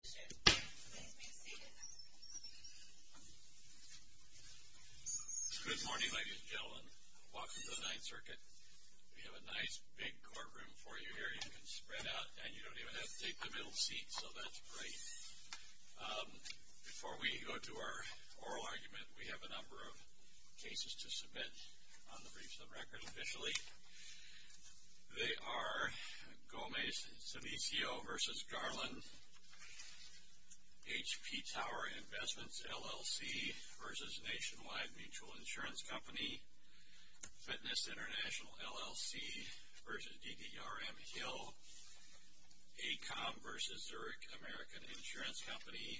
Good morning, ladies and gentlemen. Welcome to the Ninth Circuit. We have a nice, big courtroom for you here. You can spread out, and you don't even have to take the middle seat, so that's great. Before we go to our oral argument, we have a number of cases to submit on the briefs of record officially. They are Gomez-Sanicio v. Garland, HP Tower Investments, LLC v. Nationwide Mutual Insurance Company, Fitness International, LLC v. DDRM-Hill, ACOM v. Zurich American Insurance Company,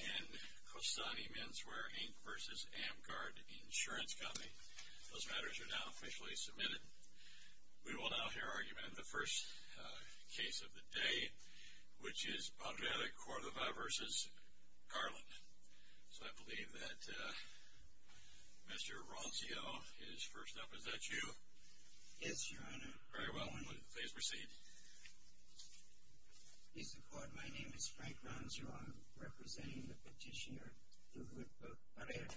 and Costani Menswear, Inc. v. Amguard Insurance Company. Those matters are now officially submitted. We will now hear argument in the first case of the day, which is Barrera-Cordova v. Garland. So I believe that Mr. Roncio is first up. Is that you? Yes, Your Honor. Very well. Please proceed. Mr. Court, my name is Frank Roncio. I'm representing the petitioner, Lujan Barrera.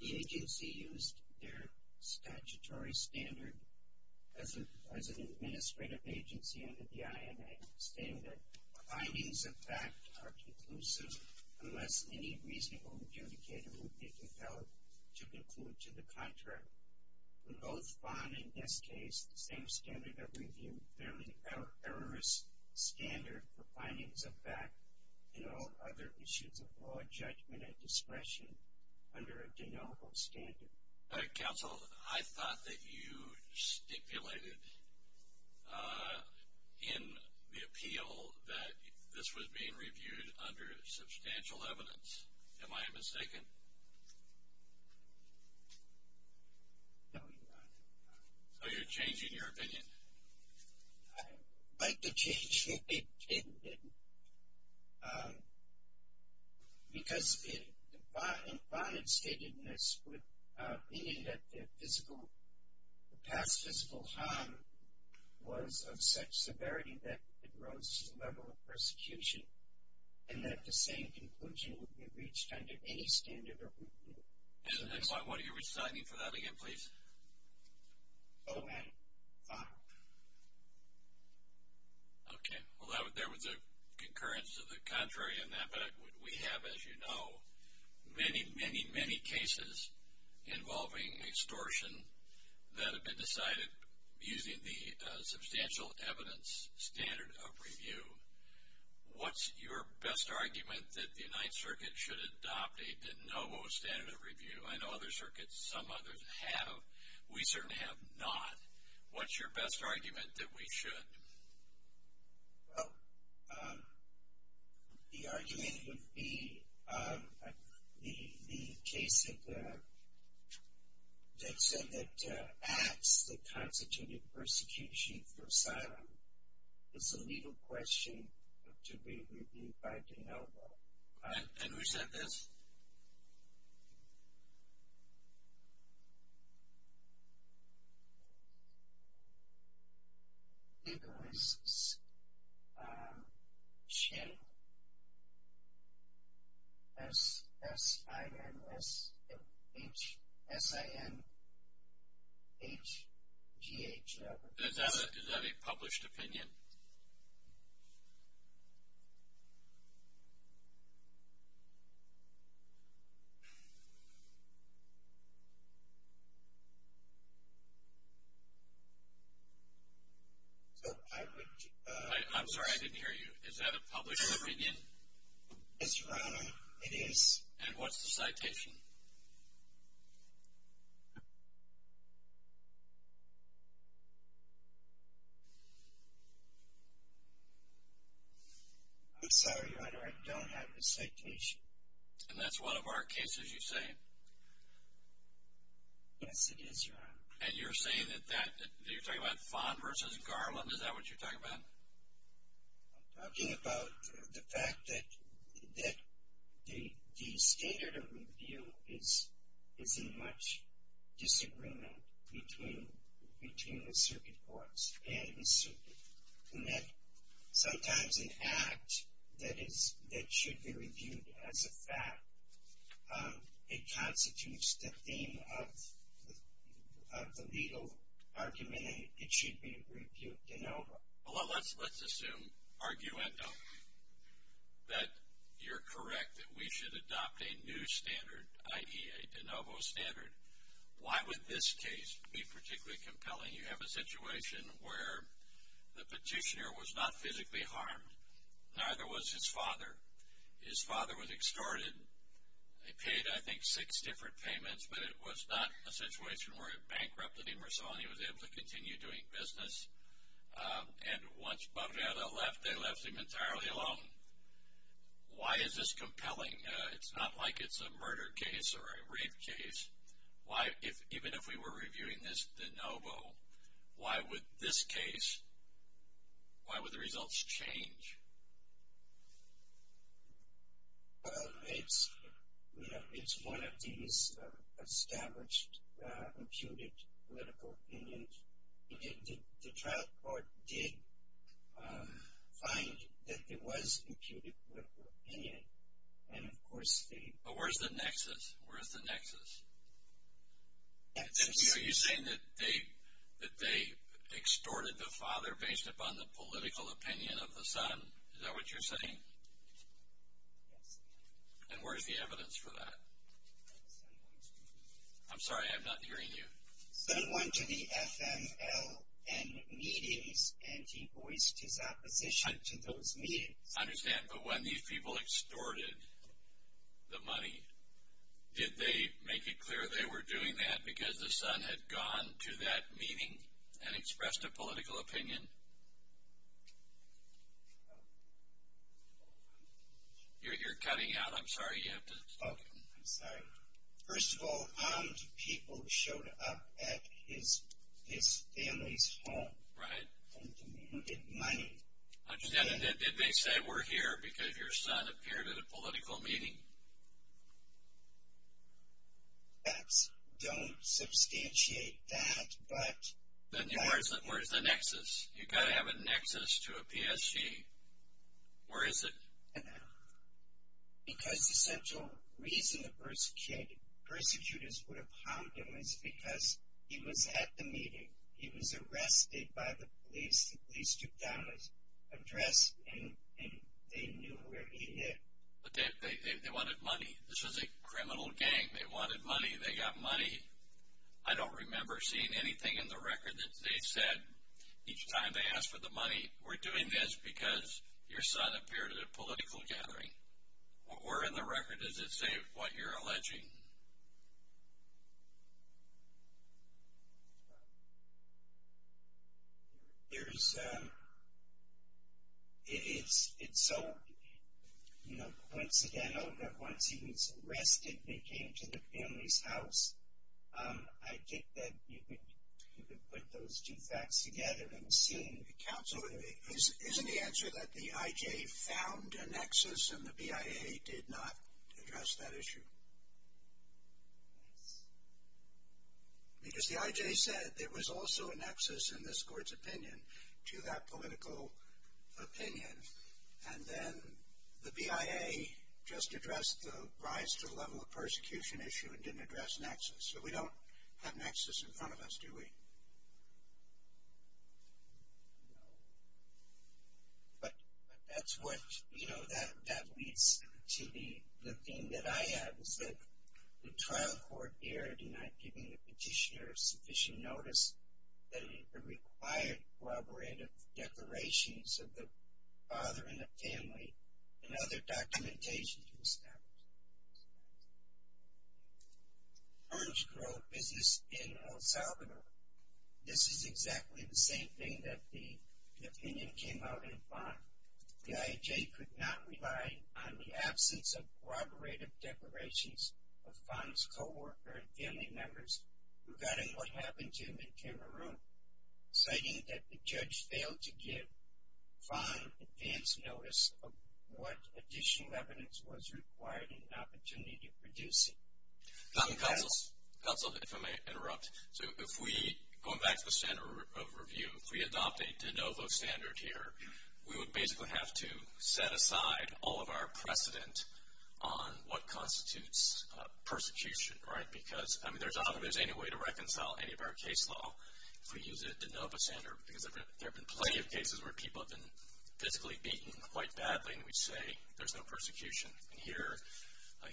The agency used their statutory standard as an administrative agency under the IMA, stating that findings of fact are conclusive unless any reasonable adjudicator would be compelled to conclude to the contrary. We both find in this case the same standard of review, a fairly errorous standard for findings of fact and all other issues of law, judgment, and discretion under a denominal standard. Counsel, I thought that you stipulated in the appeal that this was being reviewed under substantial evidence. Am I mistaken? No, Your Honor. So you're changing your opinion? I'd like to change my opinion, because the findings stated in this opinion that the past physical harm was of such severity that it rose to the level of persecution, and that the same conclusion would be reached under any standard of review. What are you reciting for that again, please? O-N-R. I know other circuits, some others have. We certainly have not. What's your best argument that we should? Well, the argument would be the case that said that acts that constitute persecution for asylum is a legal question to be reviewed by a denominal. And who said this? Did we share? S-I-N-H-G-H. Is that a published opinion? I'm sorry, I didn't hear you. Is that a published opinion? Yes, Your Honor, it is. And what's the citation? I'm sorry, Your Honor, I don't have the citation. And that's one of our cases, you say? Yes, it is, Your Honor. And you're saying that that, you're talking about Fon versus Garland, is that what you're talking about? I'm talking about the fact that the standard of review is in much disagreement between the circuit courts and the circuit. And that sometimes an act that should be reviewed as a fact, it constitutes the theme of the legal argument, and it should be reviewed de novo. Well, let's assume, arguendo, that you're correct, that we should adopt a new standard, i.e. a de novo standard. Why would this case be particularly compelling? You have a situation where the petitioner was not physically harmed, neither was his father. His father was extorted. He paid, I think, six different payments, but it was not a situation where it bankrupted him or so, and he was able to continue doing business. And once Barrera left, they left him entirely alone. Why is this compelling? It's not like it's a murder case or a rape case. Why, even if we were reviewing this de novo, why would this case, why would the results change? Well, it's, you know, it's one of these established imputed political opinions. The trial court did find that there was imputed political opinion, and, of course, they... But where's the nexus? Where's the nexus? Nexus. Are you saying that they extorted the father based upon the political opinion of the son? Is that what you're saying? Yes. And where's the evidence for that? Someone to the... I'm sorry, I'm not hearing you. Someone to the FMLN meetings, and he voiced his opposition to those meetings. I understand, but when these people extorted the money, did they make it clear they were doing that because the son had gone to that meeting and expressed a political opinion? You're cutting out. I'm sorry. You have to... Oh, I'm sorry. First of all, armed people showed up at his family's home and demanded money. Did they say, we're here because your son appeared at a political meeting? That's... Don't substantiate that, but... Then where's the nexus? You've got to have a nexus to a PSG. Where is it? Because the central reason the persecutors would have hounded him is because he was at the meeting. He was arrested by the police. The police took down his address, and they knew where he lived. But they wanted money. This was a criminal gang. They wanted money. They got money. I don't remember seeing anything in the record that they said each time they asked for the money, we're doing this because your son appeared at a political gathering. What were in the record? Does it say what you're alleging? There's... It's so coincidental that once he was arrested, they came to the family's house. I think that you could put those two facts together and see. Counsel, isn't the answer that the IJ found a nexus and the BIA did not address that issue? Yes. Because the IJ said there was also a nexus in this court's opinion to that political opinion, and then the BIA just addressed the rise to the level of persecution issue and didn't address nexus. So we don't have nexus in front of us, do we? No. But that's what, you know, that leads to the theme that I have, is that the trial court here did not give the petitioner sufficient notice that it required collaborative declarations of the father and the family and other documentation to establish. Farnsboro Business in El Salvador. This is exactly the same thing that the opinion came out in front. The IJ could not rely on the absence of cooperative declarations of Farns' co-worker and family members regarding what happened to him in Cameroon, citing that the judge failed to give fine advance notice of what additional evidence was required in an opportunity to produce it. Counsel, if I may interrupt. So if we, going back to the standard of review, if we adopt a de novo standard here, we would basically have to set aside all of our precedent on what constitutes persecution, right? Because, I mean, there's not always any way to reconcile any of our case law if we use a de novo standard, because there have been plenty of cases where people have been physically beaten quite badly, and we say there's no persecution. And here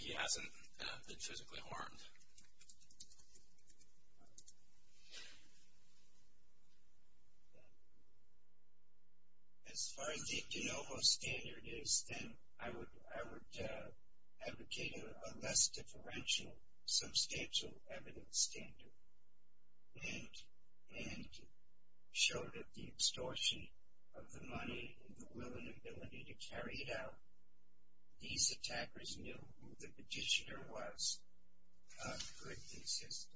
he hasn't been physically harmed. As far as the de novo standard is, then I would advocate a less differential substantial evidence standard and show that the extortion of the money and the will and ability to carry it out, these attackers knew who the petitioner was who had persisted.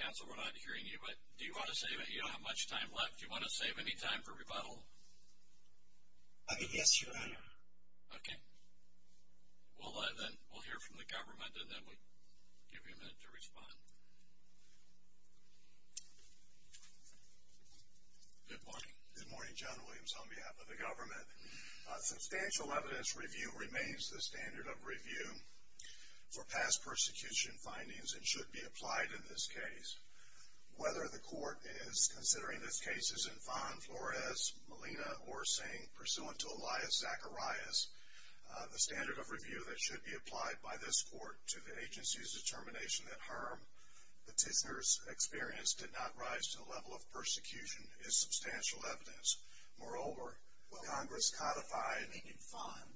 Counsel, we're not hearing you, but do you want to save it? You don't have much time left. Do you want to save any time for rebuttal? Yes, Your Honor. Okay. Well, then we'll hear from the government, and then we'll give you a minute to respond. Good morning. Good morning, General Williams, on behalf of the government. Substantial evidence review remains the standard of review for past persecution findings and should be applied in this case. Whether the court is considering these cases in Fon Flores, Molina, or Singh, pursuant to Elias Zacharias, the standard of review that should be applied by this court to the agency's determination that harm petitioner's experience did not rise to the level of persecution is substantial evidence. Moreover, Congress codified in Fon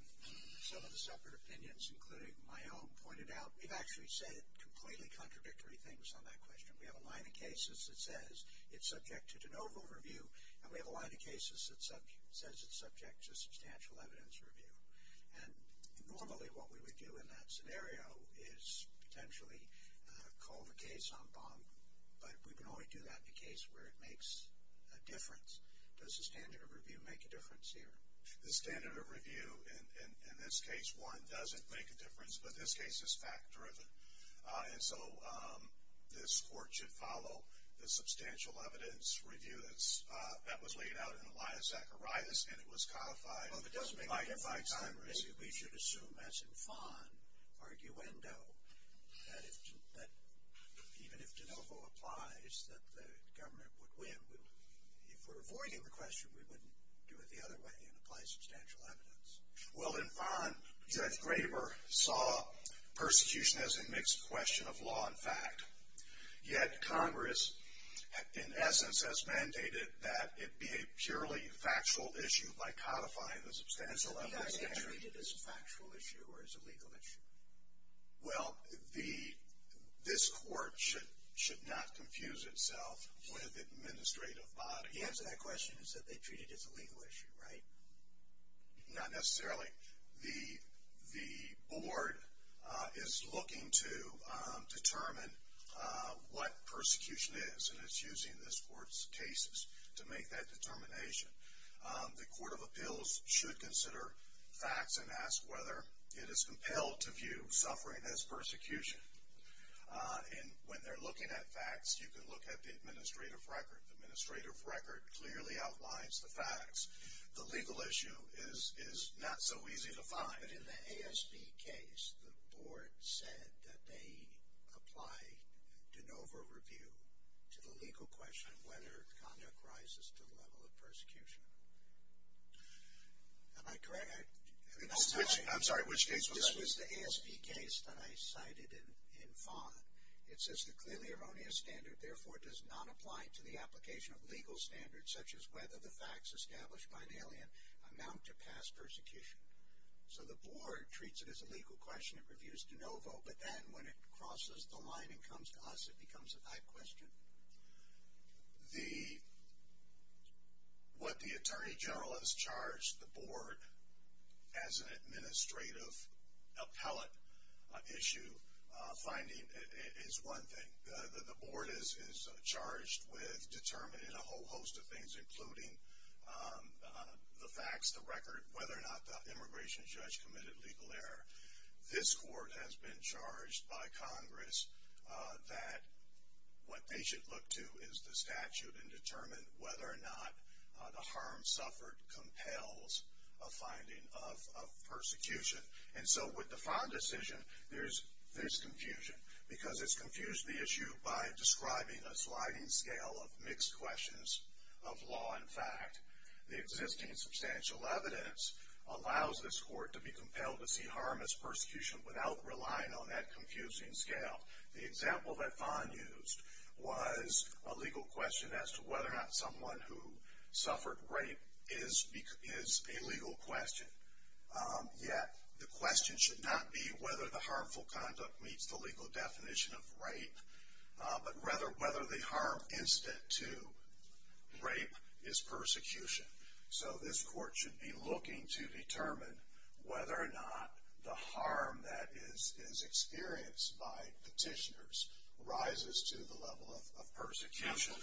some of the separate opinions, including my own, pointed out, we've actually said completely contradictory things on that question. We have a line of cases that says it's subject to de novo review, and we have a line of cases that says it's subject to substantial evidence review. And normally what we would do in that scenario is potentially call the case on bond, but we can only do that in a case where it makes a difference. Does the standard of review make a difference here? The standard of review in this case, one, doesn't make a difference, but this case is fact-driven. And so this court should follow the substantial evidence review that was laid out in Elias Zacharias, and it was codified by Congress. We should assume, as in Fon, arguendo, that even if de novo applies, that the government would win. If we're avoiding the question, we wouldn't do it the other way and apply substantial evidence. Well, in Fon, Judge Graber saw persecution as a mixed question of law and fact. Yet Congress, in essence, has mandated that it be a purely factual issue by codifying the substantial evidence. So be that treated as a factual issue or as a legal issue? Well, this court should not confuse itself with administrative bodies. The answer to that question is that they treat it as a legal issue, right? Not necessarily. The board is looking to determine what persecution is, and it's using this court's cases to make that determination. The Court of Appeals should consider facts and ask whether it is compelled to view suffering as persecution. And when they're looking at facts, you can look at the administrative record. The administrative record clearly outlines the facts. The legal issue is not so easy to find. But in the ASB case, the board said that they applied de novo review to the legal question of whether conduct rises to the level of persecution. Am I correct? I'm sorry, which case was this? This was the ASB case that I cited in Fon. It says the clearly erroneous standard, therefore, does not apply to the application of legal standards, such as whether the facts established by an alien amount to past persecution. So the board treats it as a legal question. It reviews de novo. But then when it crosses the line and comes to us, it becomes a type question. What the Attorney General has charged the board as an administrative appellate issue finding is one thing. The board is charged with determining a whole host of things, including the facts, the record, whether or not the immigration judge committed legal error. This court has been charged by Congress that what they should look to is the statute and determine whether or not the harm suffered compels a finding of persecution. And so with the Fon decision, there's confusion. Because it's confused the issue by describing a sliding scale of mixed questions of law and fact. The existing substantial evidence allows this court to be compelled to see harm as persecution without relying on that confusing scale. The example that Fon used was a legal question as to whether or not someone who suffered rape is a legal question. Yet the question should not be whether the harmful conduct meets the legal definition of rape, but rather whether the harm incident to rape is persecution. So this court should be looking to determine whether or not the harm that is experienced by petitioners rises to the level of persecution.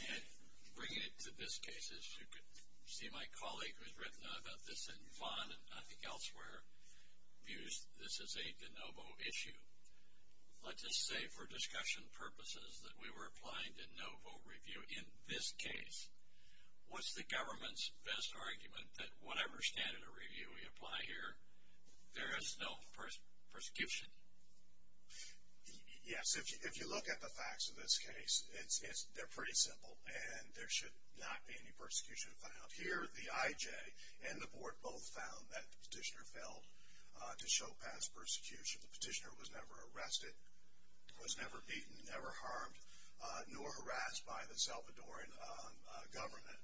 Bringing it to this case, as you can see my colleague who has written about this in Fon and I think elsewhere, views this as a de novo issue. Let's just say for discussion purposes that we were applying de novo review in this case. What's the government's best argument that whatever standard of review we apply here, there is no persecution? Yes, if you look at the facts of this case, they're pretty simple and there should not be any persecution found. Here the IJ and the board both found that the petitioner failed to show past persecution. The petitioner was never arrested, was never beaten, never harmed, nor harassed by the Salvadoran government.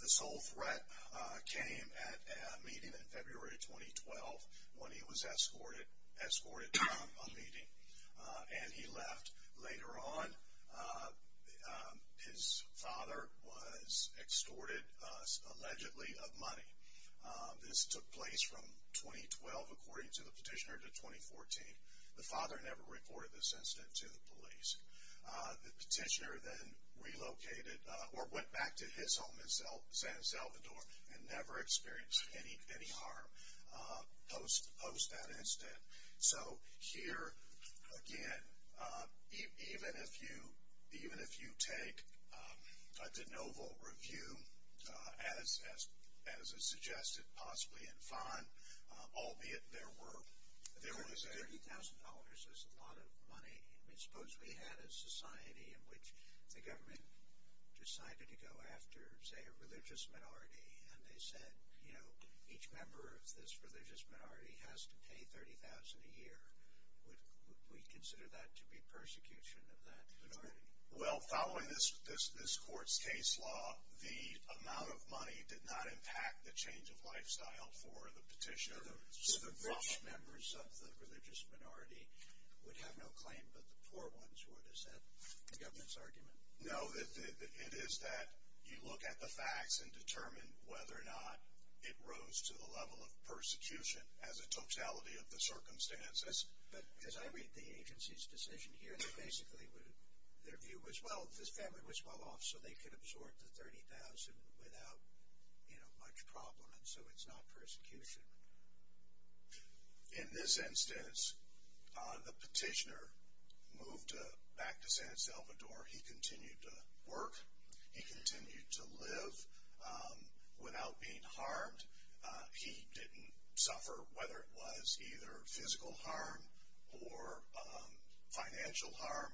The sole threat came at a meeting in February 2012 when he was escorted to a meeting and he left. Later on, his father was extorted allegedly of money. This took place from 2012 according to the petitioner to 2014. The father never reported this incident to the police. The petitioner then relocated or went back to his home in San Salvador and never experienced any harm post that incident. So here, again, even if you take a de novo review as is suggested possibly in Fon, albeit there was a $30,000 is a lot of money. I mean, suppose we had a society in which the government decided to go after, say, a religious minority and they said, you know, each member of this religious minority has to pay $30,000 a year. Would we consider that to be persecution of that minority? Well, following this court's case law, the amount of money did not impact the change of lifestyle for the petitioner. So the rich members of the religious minority would have no claim, but the poor ones would. Is that the government's argument? No, it is that you look at the facts and determine whether or not it rose to the level of persecution as a totality of the circumstances. But as I read the agency's decision here, they basically would, their view was, well, this family was well off so they could absorb the $30,000 without, you know, much problem. And so it's not persecution. In this instance, the petitioner moved back to San Salvador. He continued to work. He continued to live without being harmed. He didn't suffer whether it was either physical harm or financial harm.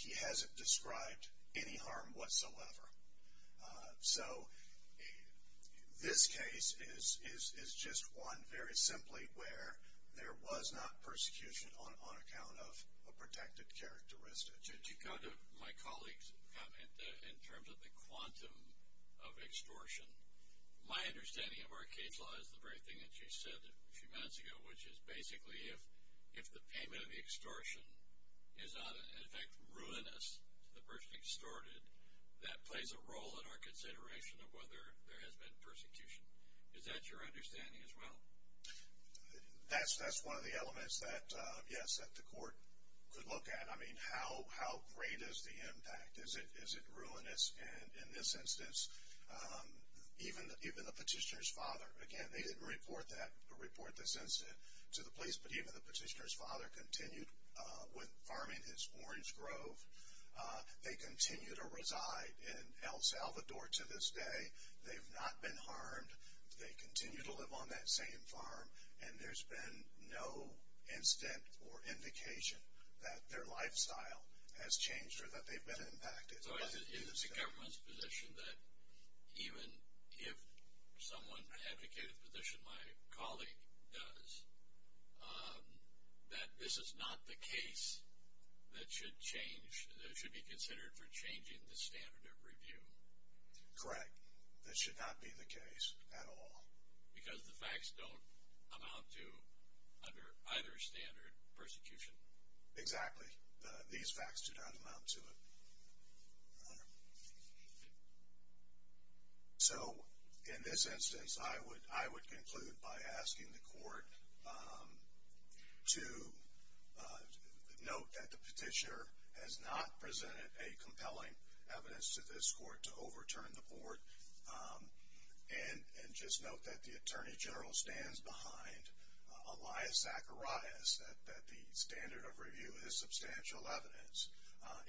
He hasn't described any harm whatsoever. So this case is just one very simply where there was not persecution on account of a protected characteristic. Did you go to my colleague's comment in terms of the quantum of extortion? My understanding of our case law is the very thing that you said a few minutes ago, which is basically if the payment of the extortion is not, in effect, ruinous to the person extorted, that plays a role in our consideration of whether there has been persecution. Is that your understanding as well? That's one of the elements that, yes, that the court could look at. I mean, how great is the impact? Is it ruinous? And in this instance, even the petitioner's father, again, they didn't report this incident to the police, but even the petitioner's father continued with farming his orange grove. They continue to reside in El Salvador to this day. They've not been harmed. They continue to live on that same farm, and there's been no incident or indication that their lifestyle has changed or that they've been impacted. So is it the government's position that even if someone advocated the position my colleague does, that this is not the case that should change, that should be considered for changing the standard of review? Correct. That should not be the case at all. Because the facts don't amount to, under either standard, persecution? Exactly. These facts do not amount to it. So in this instance, I would conclude by asking the court to note that the petitioner has not presented a compelling evidence to this court to overturn the board, and just note that the Attorney General stands behind Elias Zacharias, that the standard of review is substantial evidence,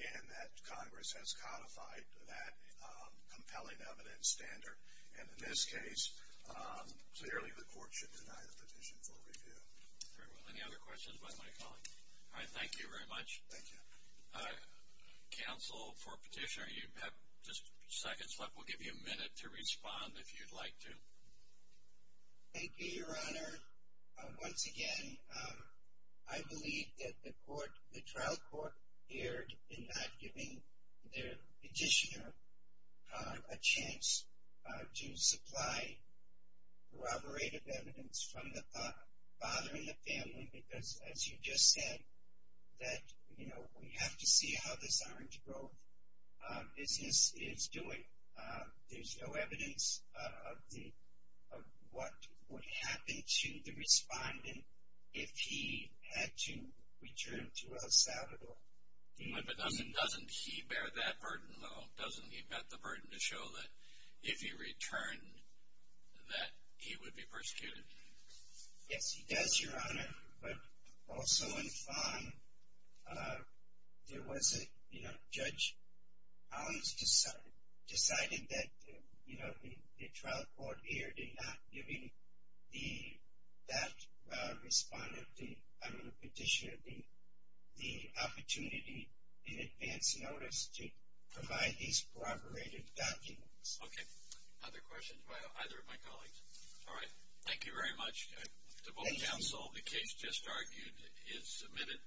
and that Congress has codified that compelling evidence standard. And in this case, clearly the court should deny the petition for review. Very well. Any other questions by my colleague? All right. Thank you very much. Thank you. Counsel for petitioner, you have just seconds left. We'll give you a minute to respond if you'd like to. Thank you, Your Honor. Once again, I believe that the trial court erred in not giving their petitioner a chance to supply corroborated evidence from the father and the family because, as you just said, that we have to see how this orange growth business is doing. There's no evidence of what would happen to the respondent if he had to return to El Salvador. But doesn't he bear that burden, though? Doesn't he bear the burden to show that if he returned that he would be persecuted? Yes, he does, Your Honor. But also in Fong, there was a, you know, Judge Collins decided that, you know, the trial court erred in not giving that respondent, I don't know, petitioner, the opportunity in advance notice to provide these corroborated documents. Okay. Other questions by either of my colleagues? All right. Thank you very much to both counsel. The case just argued is submitted.